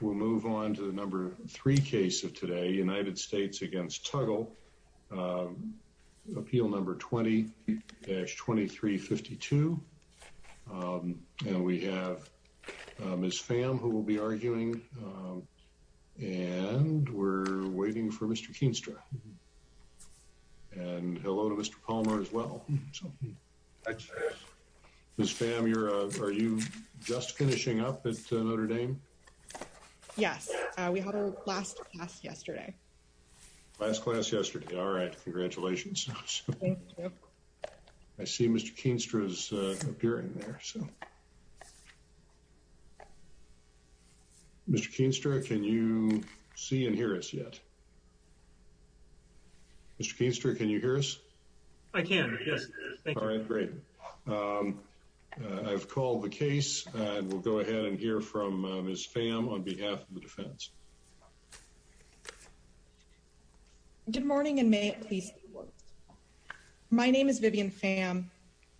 We'll move on to the number three case of today United States against Tuggle Appeal number 20 2352 And we have Miss Pham who will be arguing And we're waiting for mr. Keenstra And hello to mr. Palmer as well Miss Pham you're uh, are you just finishing up at Notre Dame? Yes, we had our last class yesterday Last class yesterday. All right. Congratulations. I See mr. Keenstra's appearing there, so Mr. Keenstra, can you see and hear us yet? Mr. Keenstra, can you hear us? I can All right, great I've called the case and we'll go ahead and hear from Miss Pham on behalf of the defense Good morning, and may it please My name is Vivian Pham.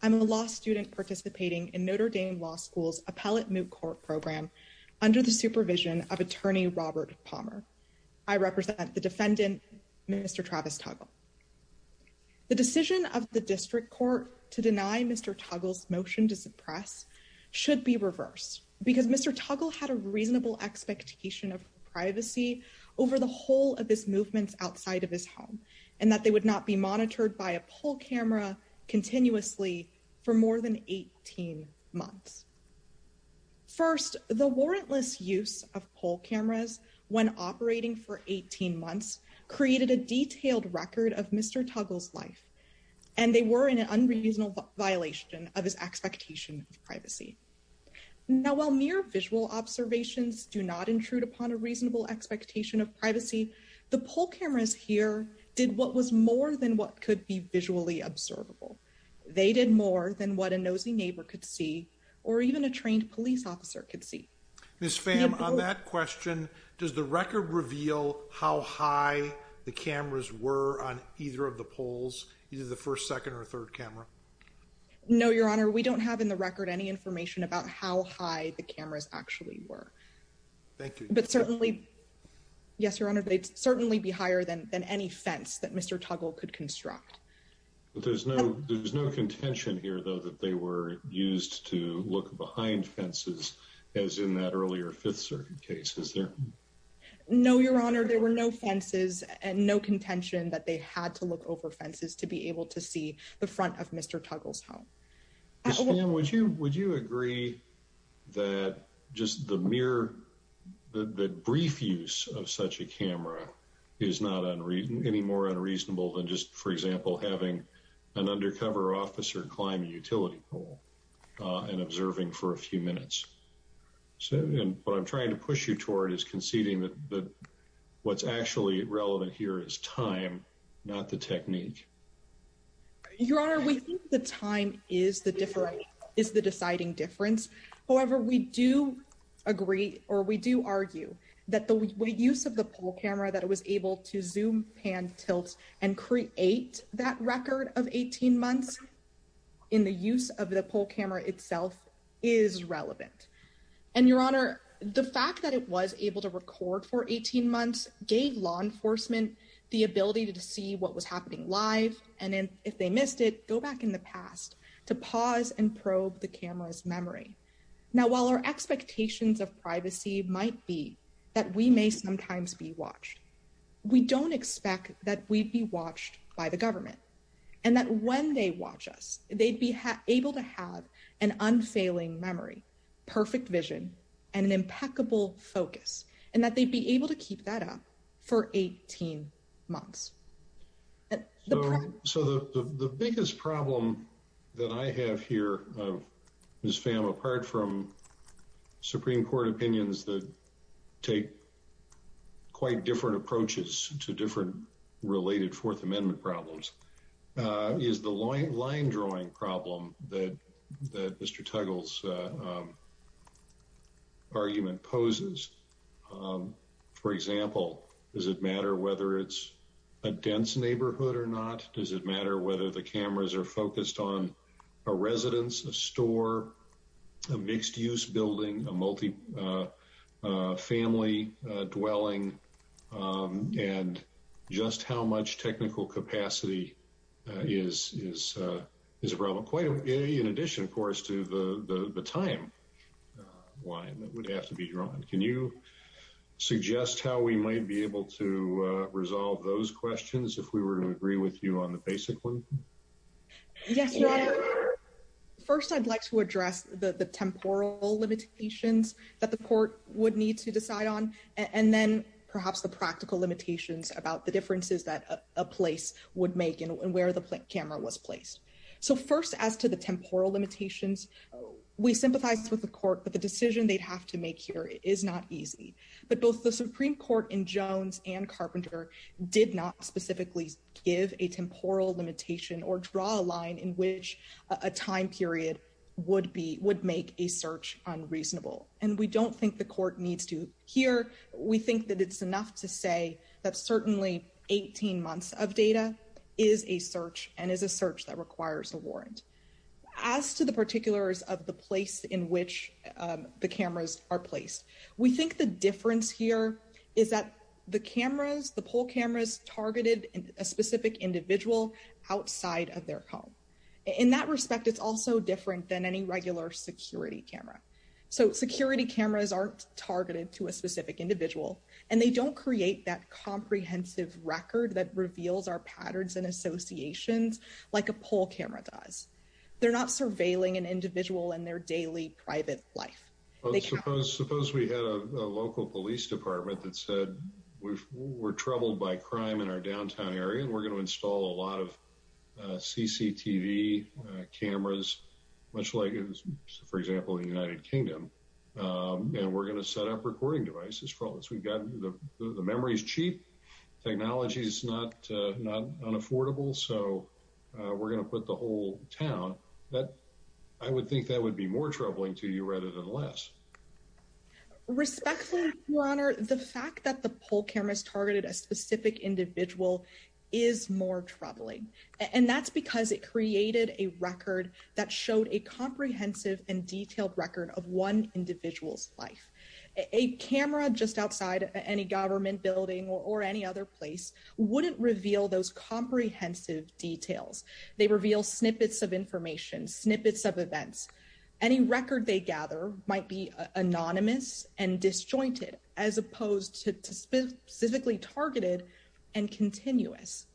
I'm a law student participating in Notre Dame Law School's appellate moot court program Under the supervision of attorney Robert Palmer. I represent the defendant. Mr. Travis Tuggle The decision of the district court to deny mr Tuggles motion to suppress should be reversed because mr Tuggle had a reasonable expectation of privacy over the whole of this movements outside of his home and that they would not be monitored by a poll camera continuously for more than 18 months First the warrantless use of poll cameras when operating for 18 months Created a detailed record of mr. Tuggles life and they were in an unreasonable violation of his expectation of privacy Now while mere visual observations do not intrude upon a reasonable expectation of privacy The poll cameras here did what was more than what could be visually observable They did more than what a nosy neighbor could see or even a trained police officer could see Miss Pham on that question Does the record reveal how high the cameras were on either of the polls either the first second or third camera? No, your honor. We don't have in the record any information about how high the cameras actually were but certainly Yes, your honor. They'd certainly be higher than than any fence that mr. Tuggle could construct There's no there's no contention here though that they were used to look behind fences as in that earlier Fifth Circuit case is there? No, your honor. There were no fences and no contention that they had to look over fences to be able to see the front Of mr. Tuggles home Would you would you agree? that just the mere The the brief use of such a camera is not unreasonable any more unreasonable than just for example Having an undercover officer climb a utility pole And observing for a few minutes so and what I'm trying to push you toward is conceding that What's actually relevant here is time not the technique Your honor. We think the time is the different is the deciding difference. However, we do Agree or we do argue that the use of the pole camera that it was able to zoom pan tilt and Create that record of 18 months in the use of the pole camera itself is Relevant and your honor the fact that it was able to record for 18 months gave law enforcement The ability to see what was happening live and then if they missed it go back in the past To pause and probe the camera's memory now while our expectations of privacy might be that we may sometimes Be watched we don't expect that We'd be watched by the government and that when they watch us they'd be able to have an unfailing memory Perfect vision and an impeccable focus and that they'd be able to keep that up for 18 months So the biggest problem that I have here of Miss fam apart from supreme court opinions that take Quite different approaches to different related fourth amendment problems Uh is the line line drawing problem that that mr. Tuggles? Argument poses um For example, does it matter whether it's a dense neighborhood or not? Does it matter whether the cameras are focused on a residence a store? a mixed-use building a multi-family dwelling um and Just how much technical capacity? Is is uh is a problem quite in addition of course to the the time Line that would have to be drawn. Can you? Suggest how we might be able to resolve those questions if we were to agree with you on the basic one Yes first i'd like to address the the temporal limitations that the court would need to decide on and then Perhaps the practical limitations about the differences that a place would make and where the camera was placed So first as to the temporal limitations We sympathize with the court but the decision they'd have to make here is not easy But both the supreme court in jones and carpenter Did not specifically give a temporal limitation or draw a line in which a time period Would be would make a search unreasonable and we don't think the court needs to hear We think that it's enough to say that certainly 18 months of data As to the particulars of the place in which The cameras are placed. We think the difference here Is that the cameras the poll cameras targeted a specific individual outside of their home? In that respect it's also different than any regular security camera So security cameras aren't targeted to a specific individual and they don't create that Comprehensive record that reveals our patterns and associations Like a poll camera does they're not surveilling an individual in their daily private life suppose we had a local police department that said We're troubled by crime in our downtown area and we're going to install a lot of cctv cameras Much like it was for example in the united kingdom And we're going to set up recording devices for all this. We've got the the memory is cheap Technology is not uh, not unaffordable. So We're going to put the whole town that I would think that would be more troubling to you rather than less Respectfully your honor the fact that the poll cameras targeted a specific individual Is more troubling and that's because it created a record that showed a comprehensive and detailed record of one Individual's life a camera just outside any government building or any other place wouldn't reveal those Comprehensive details they reveal snippets of information snippets of events Any record they gather might be anonymous and disjointed as opposed to specifically targeted and continuous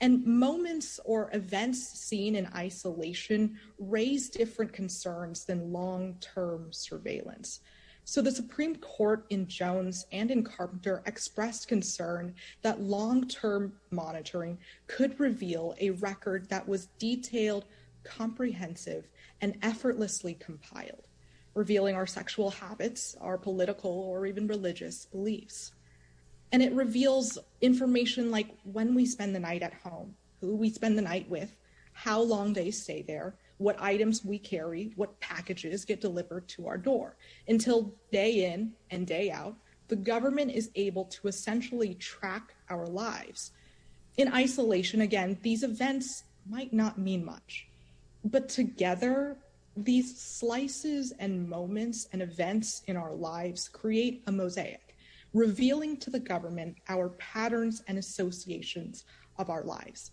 And moments or events seen in isolation Raise different concerns than long-term surveillance So the supreme court in jones and in carpenter expressed concern that long-term monitoring Could reveal a record that was detailed comprehensive and effortlessly compiled revealing our sexual habits our political or even religious beliefs And it reveals information like when we spend the night at home who we spend the night with How long they stay there what items we carry what packages get delivered to our door until day in and day out The government is able to essentially track our lives In isolation again, these events might not mean much but together These slices and moments and events in our lives create a mosaic Revealing to the government our patterns and associations of our lives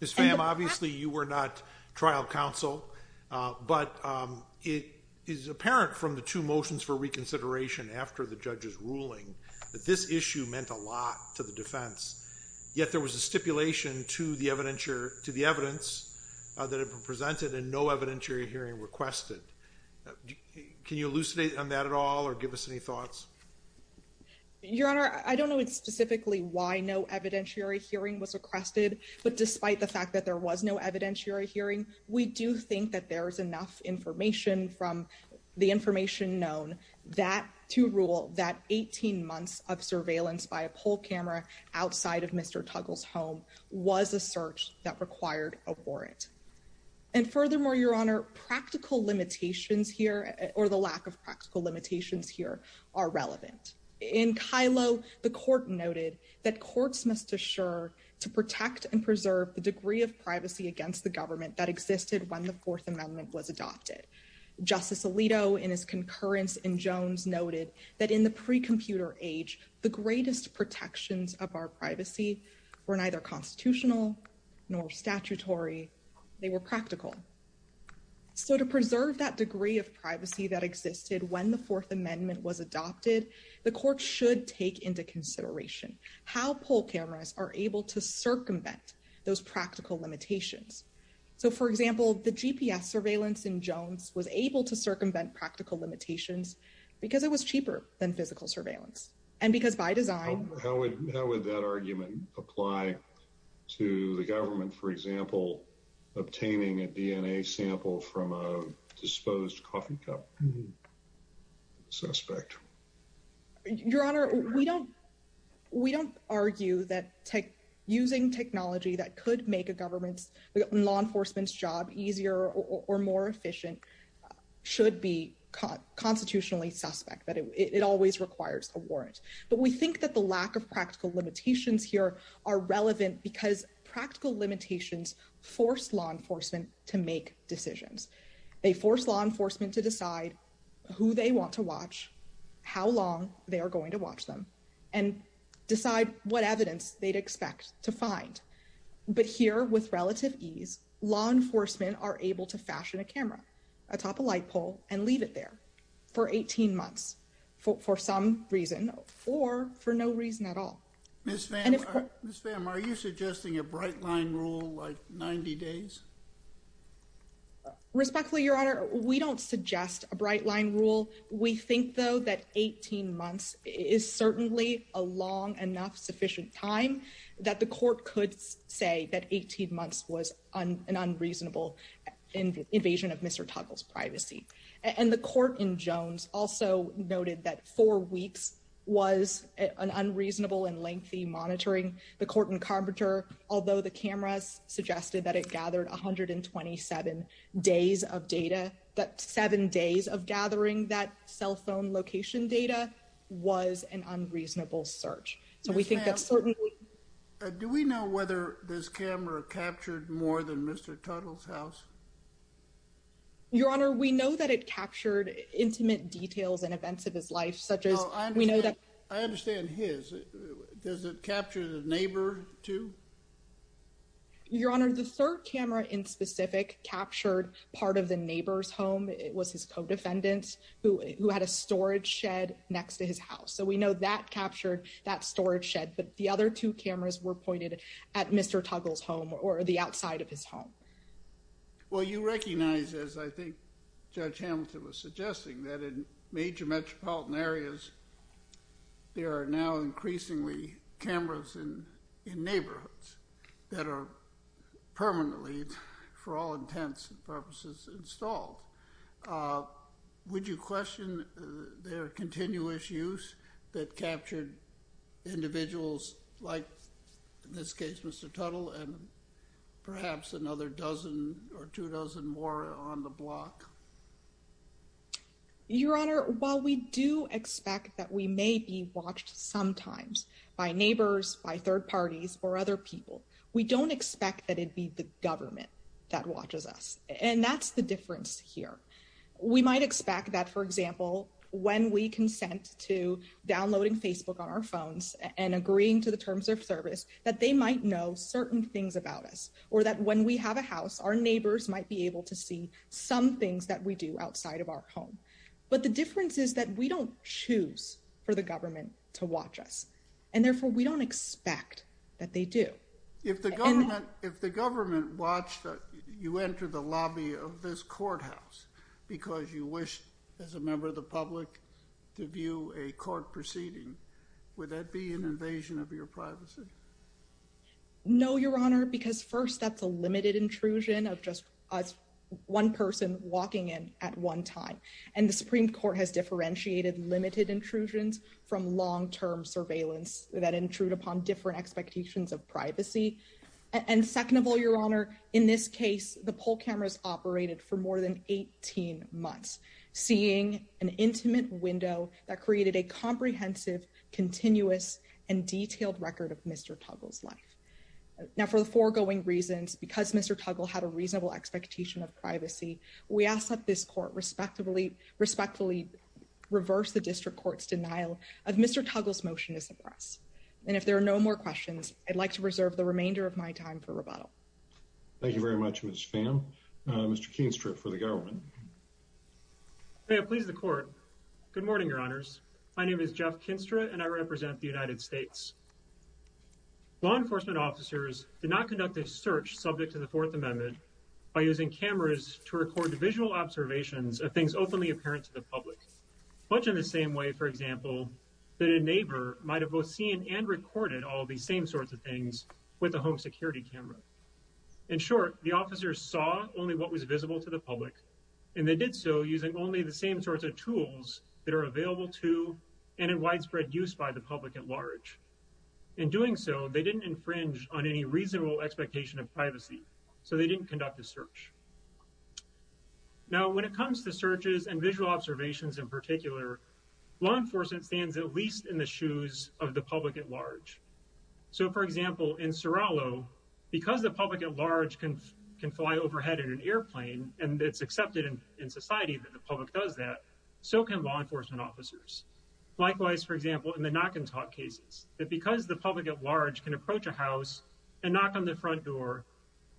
Miss fam, obviously you were not trial counsel uh, but um It is apparent from the two motions for reconsideration after the judge's ruling that this issue meant a lot to the defense Yet there was a stipulation to the evidentiary to the evidence That had been presented and no evidentiary hearing requested Can you elucidate on that at all or give us any thoughts? Uh Your honor, I don't know specifically why no evidentiary hearing was requested But despite the fact that there was no evidentiary hearing we do think that there is enough information from the information known That to rule that 18 months of surveillance by a poll camera outside of mr Tuggles home was a search that required a warrant And furthermore your honor practical limitations here or the lack of practical limitations here are relevant In kylo, the court noted that courts must assure To protect and preserve the degree of privacy against the government that existed when the fourth amendment was adopted Justice alito in his concurrence in jones noted that in the pre-computer age the greatest protections of our privacy Were neither constitutional Nor statutory They were practical So to preserve that degree of privacy that existed when the fourth amendment was adopted The court should take into consideration how poll cameras are able to circumvent those practical limitations So for example the gps surveillance in jones was able to circumvent practical limitations Because it was cheaper than physical surveillance and because by design how would how would that argument apply? To the government for example obtaining a dna sample from a disposed coffee cup Suspect your honor, we don't We don't argue that tech using technology that could make a government's law enforcement's job easier or more efficient Should be caught constitutionally suspect that it always requires a warrant But we think that the lack of practical limitations here are relevant because practical limitations Force law enforcement to make decisions. They force law enforcement to decide Who they want to watch? how long they are going to watch them and Decide what evidence they'd expect to find But here with relative ease law enforcement are able to fashion a camera atop a light pole and leave it there for 18 months For some reason or for no reason at all Miss pham, are you suggesting a bright line rule like 90 days? Respectfully your honor. We don't suggest a bright line rule We think though that 18 months is certainly a long enough sufficient time That the court could say that 18 months was an unreasonable invasion of mr Tuttle's privacy and the court in jones also noted that four weeks Was an unreasonable and lengthy monitoring the court in carpenter Although the cameras suggested that it gathered 127 Days of data that seven days of gathering that cell phone location data Was an unreasonable search. So we think that's certainly Do we know whether this camera captured more than mr. Tuttle's house? Your honor, we know that it captured intimate details and events of his life such as we know that I understand his Does it capture the neighbor too? Your honor the third camera in specific captured part of the neighbor's home It was his co-defendants who who had a storage shed next to his house So we know that captured that storage shed, but the other two cameras were pointed at mr. Tuggle's home or the outside of his home Well, you recognize as I think judge hamilton was suggesting that in major metropolitan areas there are now increasingly cameras in in neighborhoods that are Permanently for all intents and purposes installed Would you question their continuous use that captured individuals like in this case, mr. Tuttle and Perhaps another dozen or two dozen more on the block Your honor while we do expect that we may be watched sometimes By neighbors by third parties or other people. We don't expect that it'd be the government that watches us And that's the difference here we might expect that for example when we consent to When we have a house our neighbors might be able to see some things that we do outside of our home But the difference is that we don't choose for the government to watch us and therefore we don't expect That they do if the government if the government watched You enter the lobby of this courthouse Because you wish as a member of the public To view a court proceeding Would that be an invasion of your privacy? No, your honor because first that's a limited intrusion of just us One person walking in at one time and the supreme court has differentiated limited intrusions from long-term surveillance That intrude upon different expectations of privacy And second of all your honor in this case the poll cameras operated for more than 18 months Seeing an intimate window that created a comprehensive Continuous and detailed record of mr. Tuggle's life Now for the foregoing reasons because mr. Tuggle had a reasonable expectation of privacy. We ask that this court respectfully respectfully Reverse the district court's denial of mr. Tuggle's motion to suppress And if there are no more questions, i'd like to reserve the remainder of my time for rebuttal Thank you very much. Mr. Pham Mr. Keenstra for the government May it please the court good morning. Your honors. My name is jeff kinstra and I represent the united states Law enforcement officers did not conduct a search subject to the fourth amendment By using cameras to record visual observations of things openly apparent to the public Much in the same way, for example That a neighbor might have both seen and recorded all these same sorts of things with the home security camera In short the officers saw only what was visible to the public And they did so using only the same sorts of tools that are available to and in widespread use by the public at large In doing so they didn't infringe on any reasonable expectation of privacy so they didn't conduct a search Now when it comes to searches and visual observations in particular Law enforcement stands at least in the shoes of the public at large so for example in serrallo Because the public at large can can fly overhead in an airplane and it's accepted in society that the public does that So can law enforcement officers? Likewise, for example in the knock and talk cases that because the public at large can approach a house and knock on the front door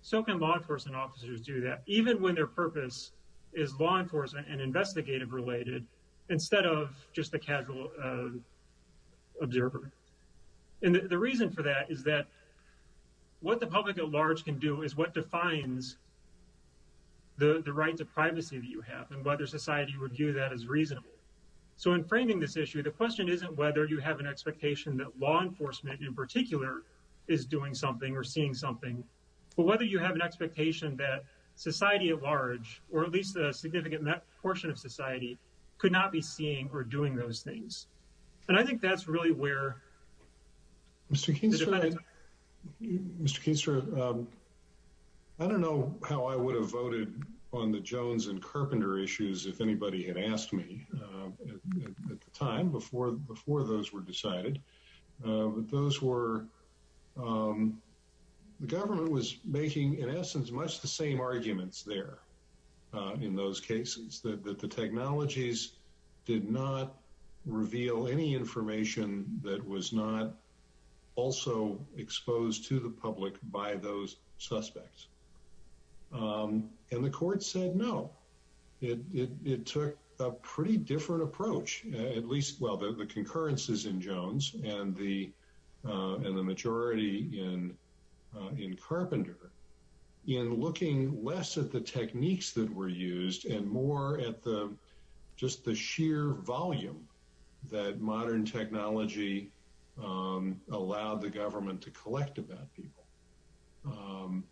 So can law enforcement officers do that even when their purpose is law enforcement and investigative related instead of just a casual Observer and the reason for that is that What the public at large can do is what defines? The the rights of privacy that you have and whether society would view that as reasonable So in framing this issue the question isn't whether you have an expectation that law enforcement in particular Is doing something or seeing something? But whether you have an expectation that society at large or at least a significant portion of society Could not be seeing or doing those things And I think that's really where Mr. King Um I don't know how I would have voted on the jones and carpenter issues if anybody had asked me At the time before before those were decided but those were um The government was making in essence much the same arguments there in those cases that the technologies did not Reveal any information that was not Also exposed to the public by those suspects Um, and the court said no it it took a pretty different approach at least well the concurrences in jones and the uh, and the majority in uh in carpenter in looking less at the techniques that were used and more at the Just the sheer volume that modern technology Um allowed the government to collect about people um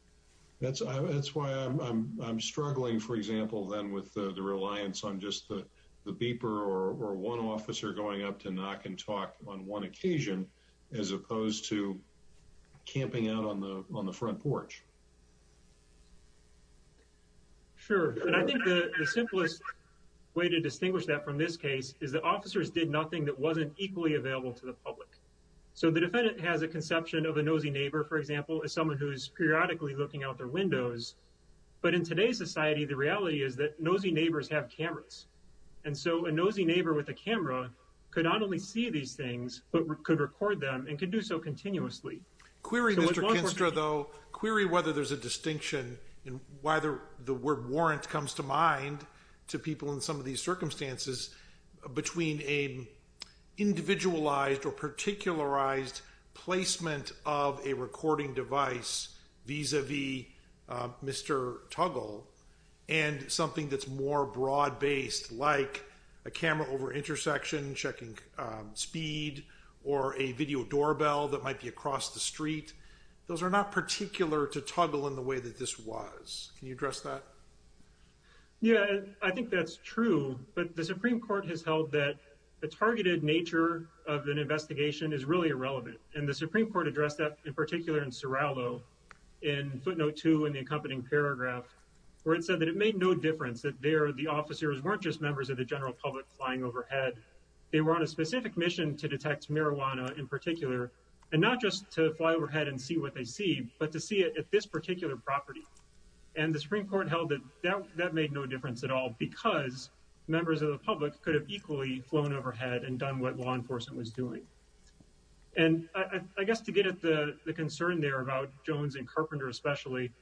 That's that's why i'm i'm struggling for example Then with the reliance on just the the beeper or or one officer going up to knock and talk on one occasion as opposed to Camping out on the on the front porch Sure, and I think the simplest Way to distinguish that from this case is that officers did nothing that wasn't equally available to the public So the defendant has a conception of a nosy neighbor. For example as someone who's periodically looking out their windows But in today's society, the reality is that nosy neighbors have cameras And so a nosy neighbor with a camera could not only see these things but could record them and could do so continuously query, mr There's a distinction in why the word warrant comes to mind to people in some of these circumstances between a individualized or particularized placement of a recording device vis-a-vis Mr. Tuggle And something that's more broad-based like a camera over intersection checking Speed or a video doorbell that might be across the street Those are not particular to toggle in the way that this was can you address that? Yeah, I think that's true But the supreme court has held that the targeted nature Of an investigation is really irrelevant and the supreme court addressed that in particular in serralo In footnote 2 in the accompanying paragraph Where it said that it made no difference that there the officers weren't just members of the general public flying overhead They were on a specific mission to detect marijuana in particular And not just to fly overhead and see what they see but to see it at this particular property and the supreme court held that that made no difference at all because Members of the public could have equally flown overhead and done what law enforcement was doing And I I guess to get at the the concern there about jones and carpenter, especially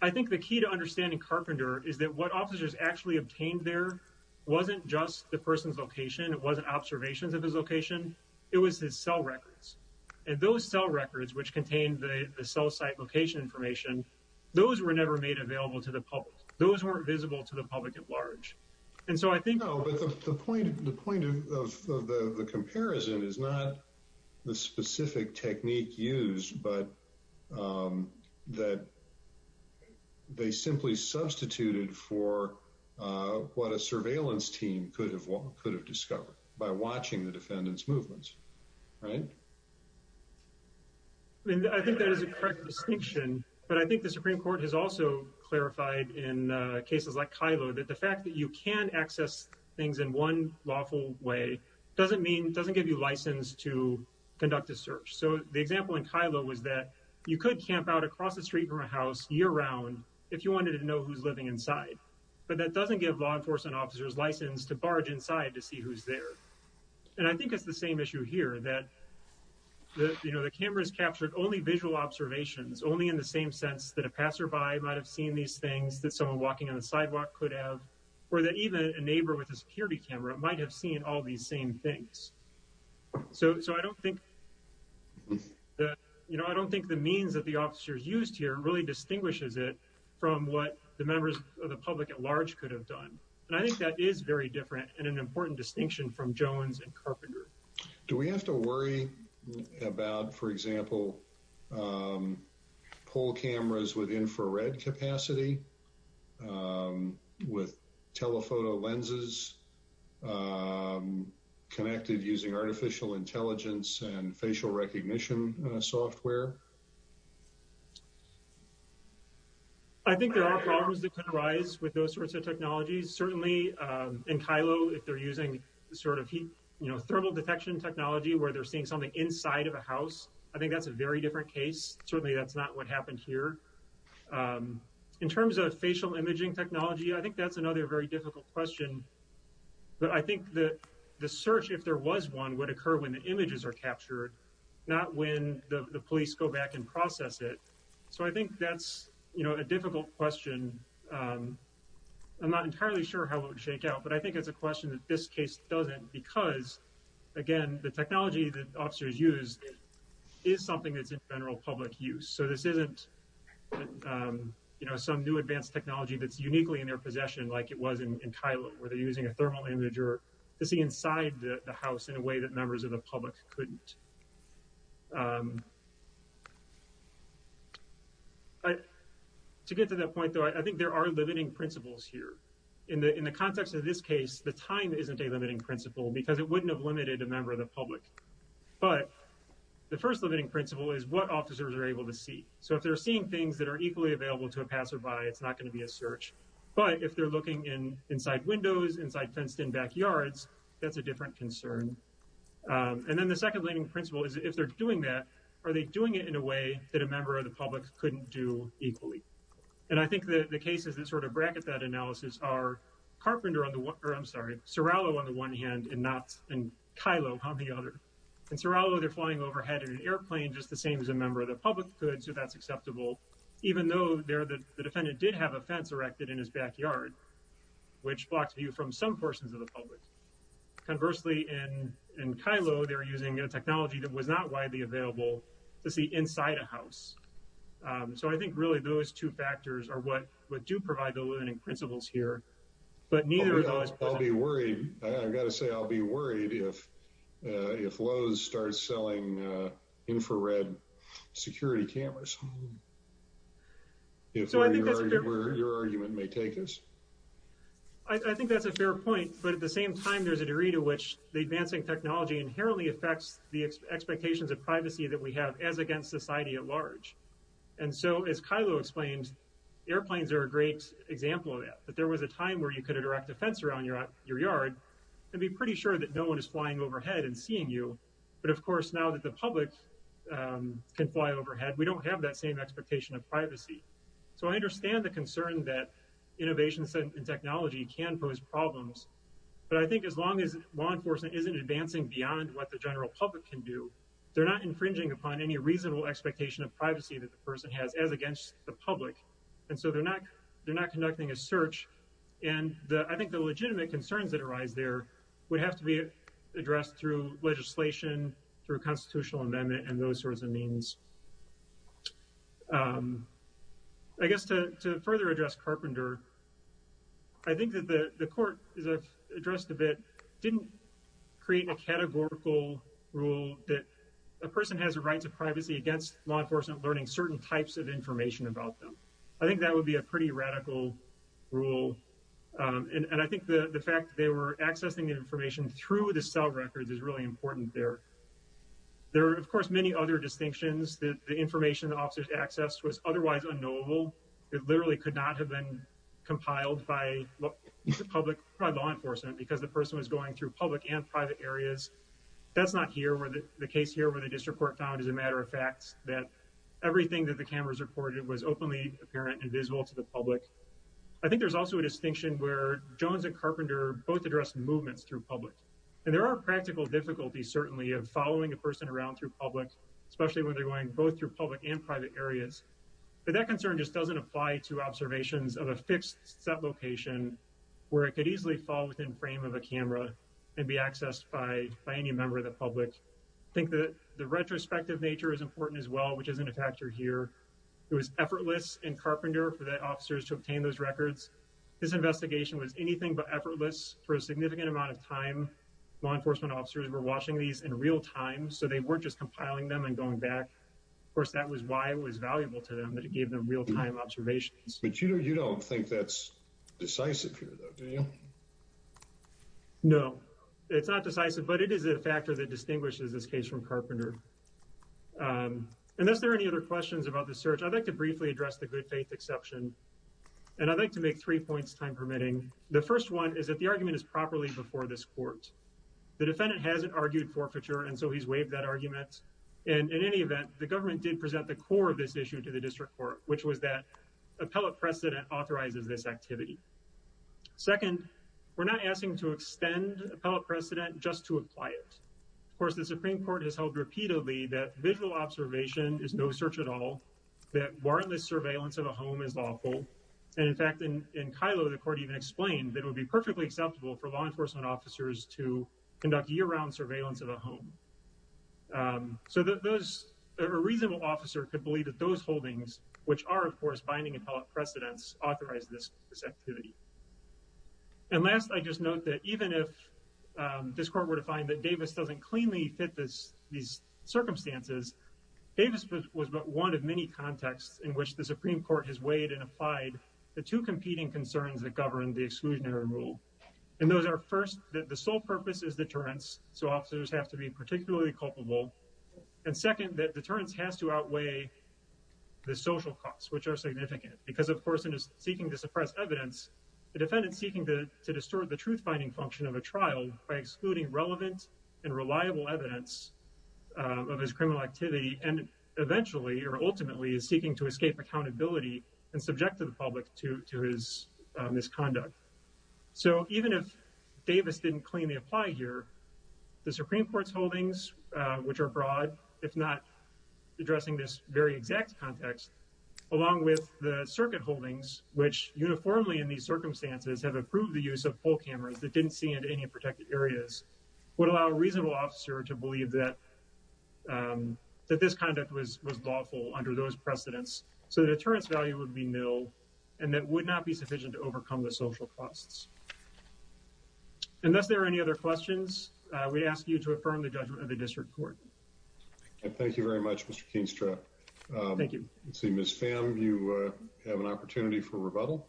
I think the key to understanding carpenter is that what officers actually obtained there Wasn't just the person's location. It wasn't observations of his location It was his cell records and those cell records which contained the the cell site location information Those were never made available to the public. Those weren't visible to the public at large and so I think no, but the point the point of of the the comparison is not the specific technique used but That They simply substituted for Uh what a surveillance team could have could have discovered by watching the defendant's movements, right? I mean, I think that is a correct distinction But I think the supreme court has also clarified in Cases like kylo that the fact that you can access things in one lawful way doesn't mean doesn't give you license to Conduct a search So the example in kylo was that you could camp out across the street from a house year round If you wanted to know who's living inside But that doesn't give law enforcement officers license to barge inside to see who's there and I think it's the same issue here that the you know The camera's captured only visual observations only in the same sense that a passerby might have seen these things that someone walking on the sidewalk Could have or that even a neighbor with a security camera might have seen all these same things so so I don't think That you know Really distinguishes it from what the members of the public at large could have done And I think that is very different and an important distinction from jones and carpenter. Do we have to worry? about for example Pole cameras with infrared capacity With telephoto lenses Connected using artificial intelligence and facial recognition software I think there are problems that could arise with those sorts of technologies certainly In kylo if they're using sort of heat, you know thermal detection technology where they're seeing something inside of a house I think that's a very different case. Certainly. That's not what happened here In terms of facial imaging technology, I think that's another very difficult question But I think that the search if there was one would occur when the images are captured Not when the police go back and process it so I think that's you know a difficult question i'm, not entirely sure how it would shake out, but I think it's a question that this case doesn't because Again, the technology that officers use Is something that's in general public use so this isn't You know some new advanced technology that's uniquely in their possession like it was in kylo where they're using a thermal image or To see inside the house in a way that members of the public couldn't um I To get to that point though. I think there are limiting principles here In the in the context of this case the time isn't a limiting principle because it wouldn't have limited a member of the public but The first limiting principle is what officers are able to see so if they're seeing things that are equally available to a passerby It's not going to be a search. But if they're looking in inside windows inside fenced in backyards, that's a different concern Um, and then the second leading principle is if they're doing that are they doing it in a way that a member of the public Couldn't do equally and I think that the cases that sort of bracket that analysis are Carpenter on the one or i'm sorry serrano on the one hand and not and kylo on the other And serrano they're flying overhead in an airplane just the same as a member of the public could so that's acceptable Even though they're the defendant did have a fence erected in his backyard Which blocks view from some portions of the public? Conversely in in kylo, they're using a technology that was not widely available to see inside a house Um, so I think really those two factors are what what do provide the limiting principles here But neither is always i'll be worried. I've got to say i'll be worried if Uh, if lowe's starts selling, uh, infrared security cameras If your argument may take us I I think that's a fair point but at the same time there's a degree to which the advancing technology inherently affects the Expectations of privacy that we have as against society at large And so as kylo explains Airplanes are a great example of that that there was a time where you could erect a fence around your your yard And be pretty sure that no one is flying overhead and seeing you but of course now that the public Can fly overhead we don't have that same expectation of privacy. So I understand the concern that Innovation and technology can pose problems But I think as long as law enforcement isn't advancing beyond what the general public can do They're not infringing upon any reasonable expectation of privacy that the person has as against the public And so they're not they're not conducting a search And the I think the legitimate concerns that arise there would have to be Addressed through legislation through constitutional amendment and those sorts of means Um I think that the the court as I've addressed a bit didn't create a categorical Rule that a person has the rights of privacy against law enforcement learning certain types of information about them I think that would be a pretty radical rule Um, and and I think the the fact they were accessing the information through the cell records is really important there There are of course many other distinctions that the information officers accessed was otherwise unknowable. It literally could not have been Compiled by the public by law enforcement because the person was going through public and private areas That's not here where the case here where the district court found as a matter of fact that Everything that the cameras reported was openly apparent and visible to the public I think there's also a distinction where jones and carpenter both address movements through public And there are practical difficulties certainly of following a person around through public Especially when they're going both through public and private areas But that concern just doesn't apply to observations of a fixed set location Where it could easily fall within frame of a camera and be accessed by by any member of the public I think that the retrospective nature is important as well, which isn't a factor here It was effortless and carpenter for the officers to obtain those records This investigation was anything but effortless for a significant amount of time Law enforcement officers were watching these in real time. So they weren't just compiling them and going back Of course that was why it was valuable to them that it gave them real-time observations, but you know, you don't think that's Decisive here though. Do you? No, it's not decisive but it is a factor that distinguishes this case from carpenter Um, and is there any other questions about the search? I'd like to briefly address the good faith exception And I'd like to make three points time permitting. The first one is that the argument is properly before this court The defendant hasn't argued forfeiture And so he's waived that argument and in any event the government did present the core of this issue to the district court Which was that? appellate precedent authorizes this activity Second we're not asking to extend appellate precedent just to apply it Of course, the supreme court has held repeatedly that visual observation is no search at all That warrantless surveillance of a home is lawful and in fact in in kylo the court even explained that it would be perfectly acceptable for law enforcement officers to Conduct year-round surveillance of a home So that those a reasonable officer could believe that those holdings which are of course binding appellate precedents authorize this this activity and last I just note that even if This court were to find that davis doesn't cleanly fit this these circumstances Davis was but one of many contexts in which the supreme court has weighed and applied The two competing concerns that govern the exclusionary rule And those are first that the sole purpose is deterrence so officers have to be particularly culpable And second that deterrence has to outweigh The social costs which are significant because of course in his seeking to suppress evidence The defendant's seeking to to distort the truth-finding function of a trial by excluding relevant and reliable evidence of his criminal activity and Eventually or ultimately is seeking to escape accountability and subject to the public to to his Misconduct so even if Davis didn't cleanly apply here the supreme court's holdings Which are broad if not addressing this very exact context Along with the circuit holdings which uniformly in these circumstances have approved the use of poll cameras that didn't see into any protected areas would allow a reasonable officer to believe that That this conduct was was lawful under those precedents So the deterrence value would be nil and that would not be sufficient to overcome the social costs Unless there are any other questions, uh, we ask you to affirm the judgment of the district court Thank you very much. Mr. Keenstra Thank you. Let's see. Ms. Pham. You uh have an opportunity for rebuttal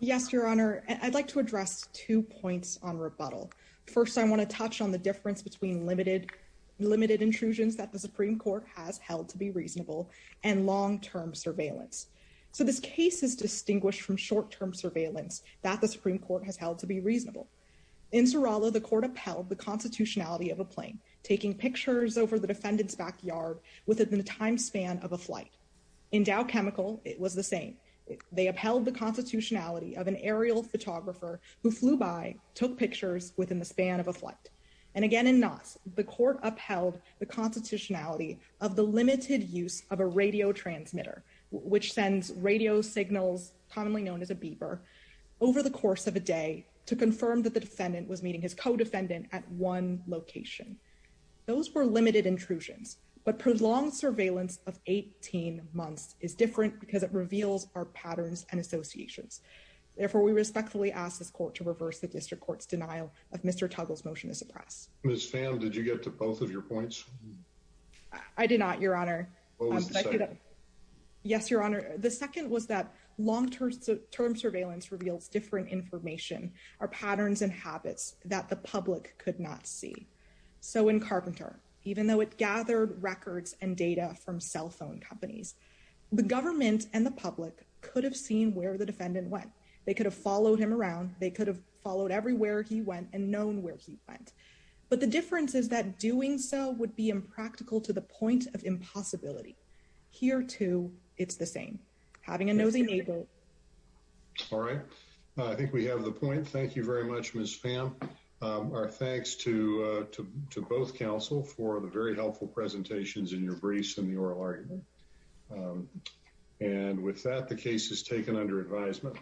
Yes, your honor i'd like to address two points on rebuttal first I want to touch on the difference between limited Limited intrusions that the supreme court has held to be reasonable and long-term surveillance So this case is distinguished from short-term surveillance that the supreme court has held to be reasonable In serrano the court upheld the constitutionality of a plane taking pictures over the defendant's backyard within the time span of a flight In dow chemical it was the same They upheld the constitutionality of an aerial photographer who flew by took pictures within the span of a flight And again in knots the court upheld the constitutionality of the limited use of a radio transmitter Which sends radio signals commonly known as a beeper? Over the course of a day to confirm that the defendant was meeting his co-defendant at one location Those were limited intrusions but prolonged surveillance of 18 months is different because it reveals our patterns and associations Therefore we respectfully ask this court to reverse the district court's denial of mr. Tuggle's motion to suppress miss fam Did you get to both of your points? I did not your honor Yes, your honor the second was that long-term Surveillance reveals different information our patterns and habits that the public could not see So in carpenter, even though it gathered records and data from cell phone companies The government and the public could have seen where the defendant went they could have followed him around They could have followed everywhere. He went and known where he went But the difference is that doing so would be impractical to the point of impossibility Here too. It's the same having a nosy neighbor All right I think we have the point. Thank you very much. Ms. Pam Our thanks to uh to both counsel for the very helpful presentations in your briefs and the oral argument um And with that the case is taken under advisement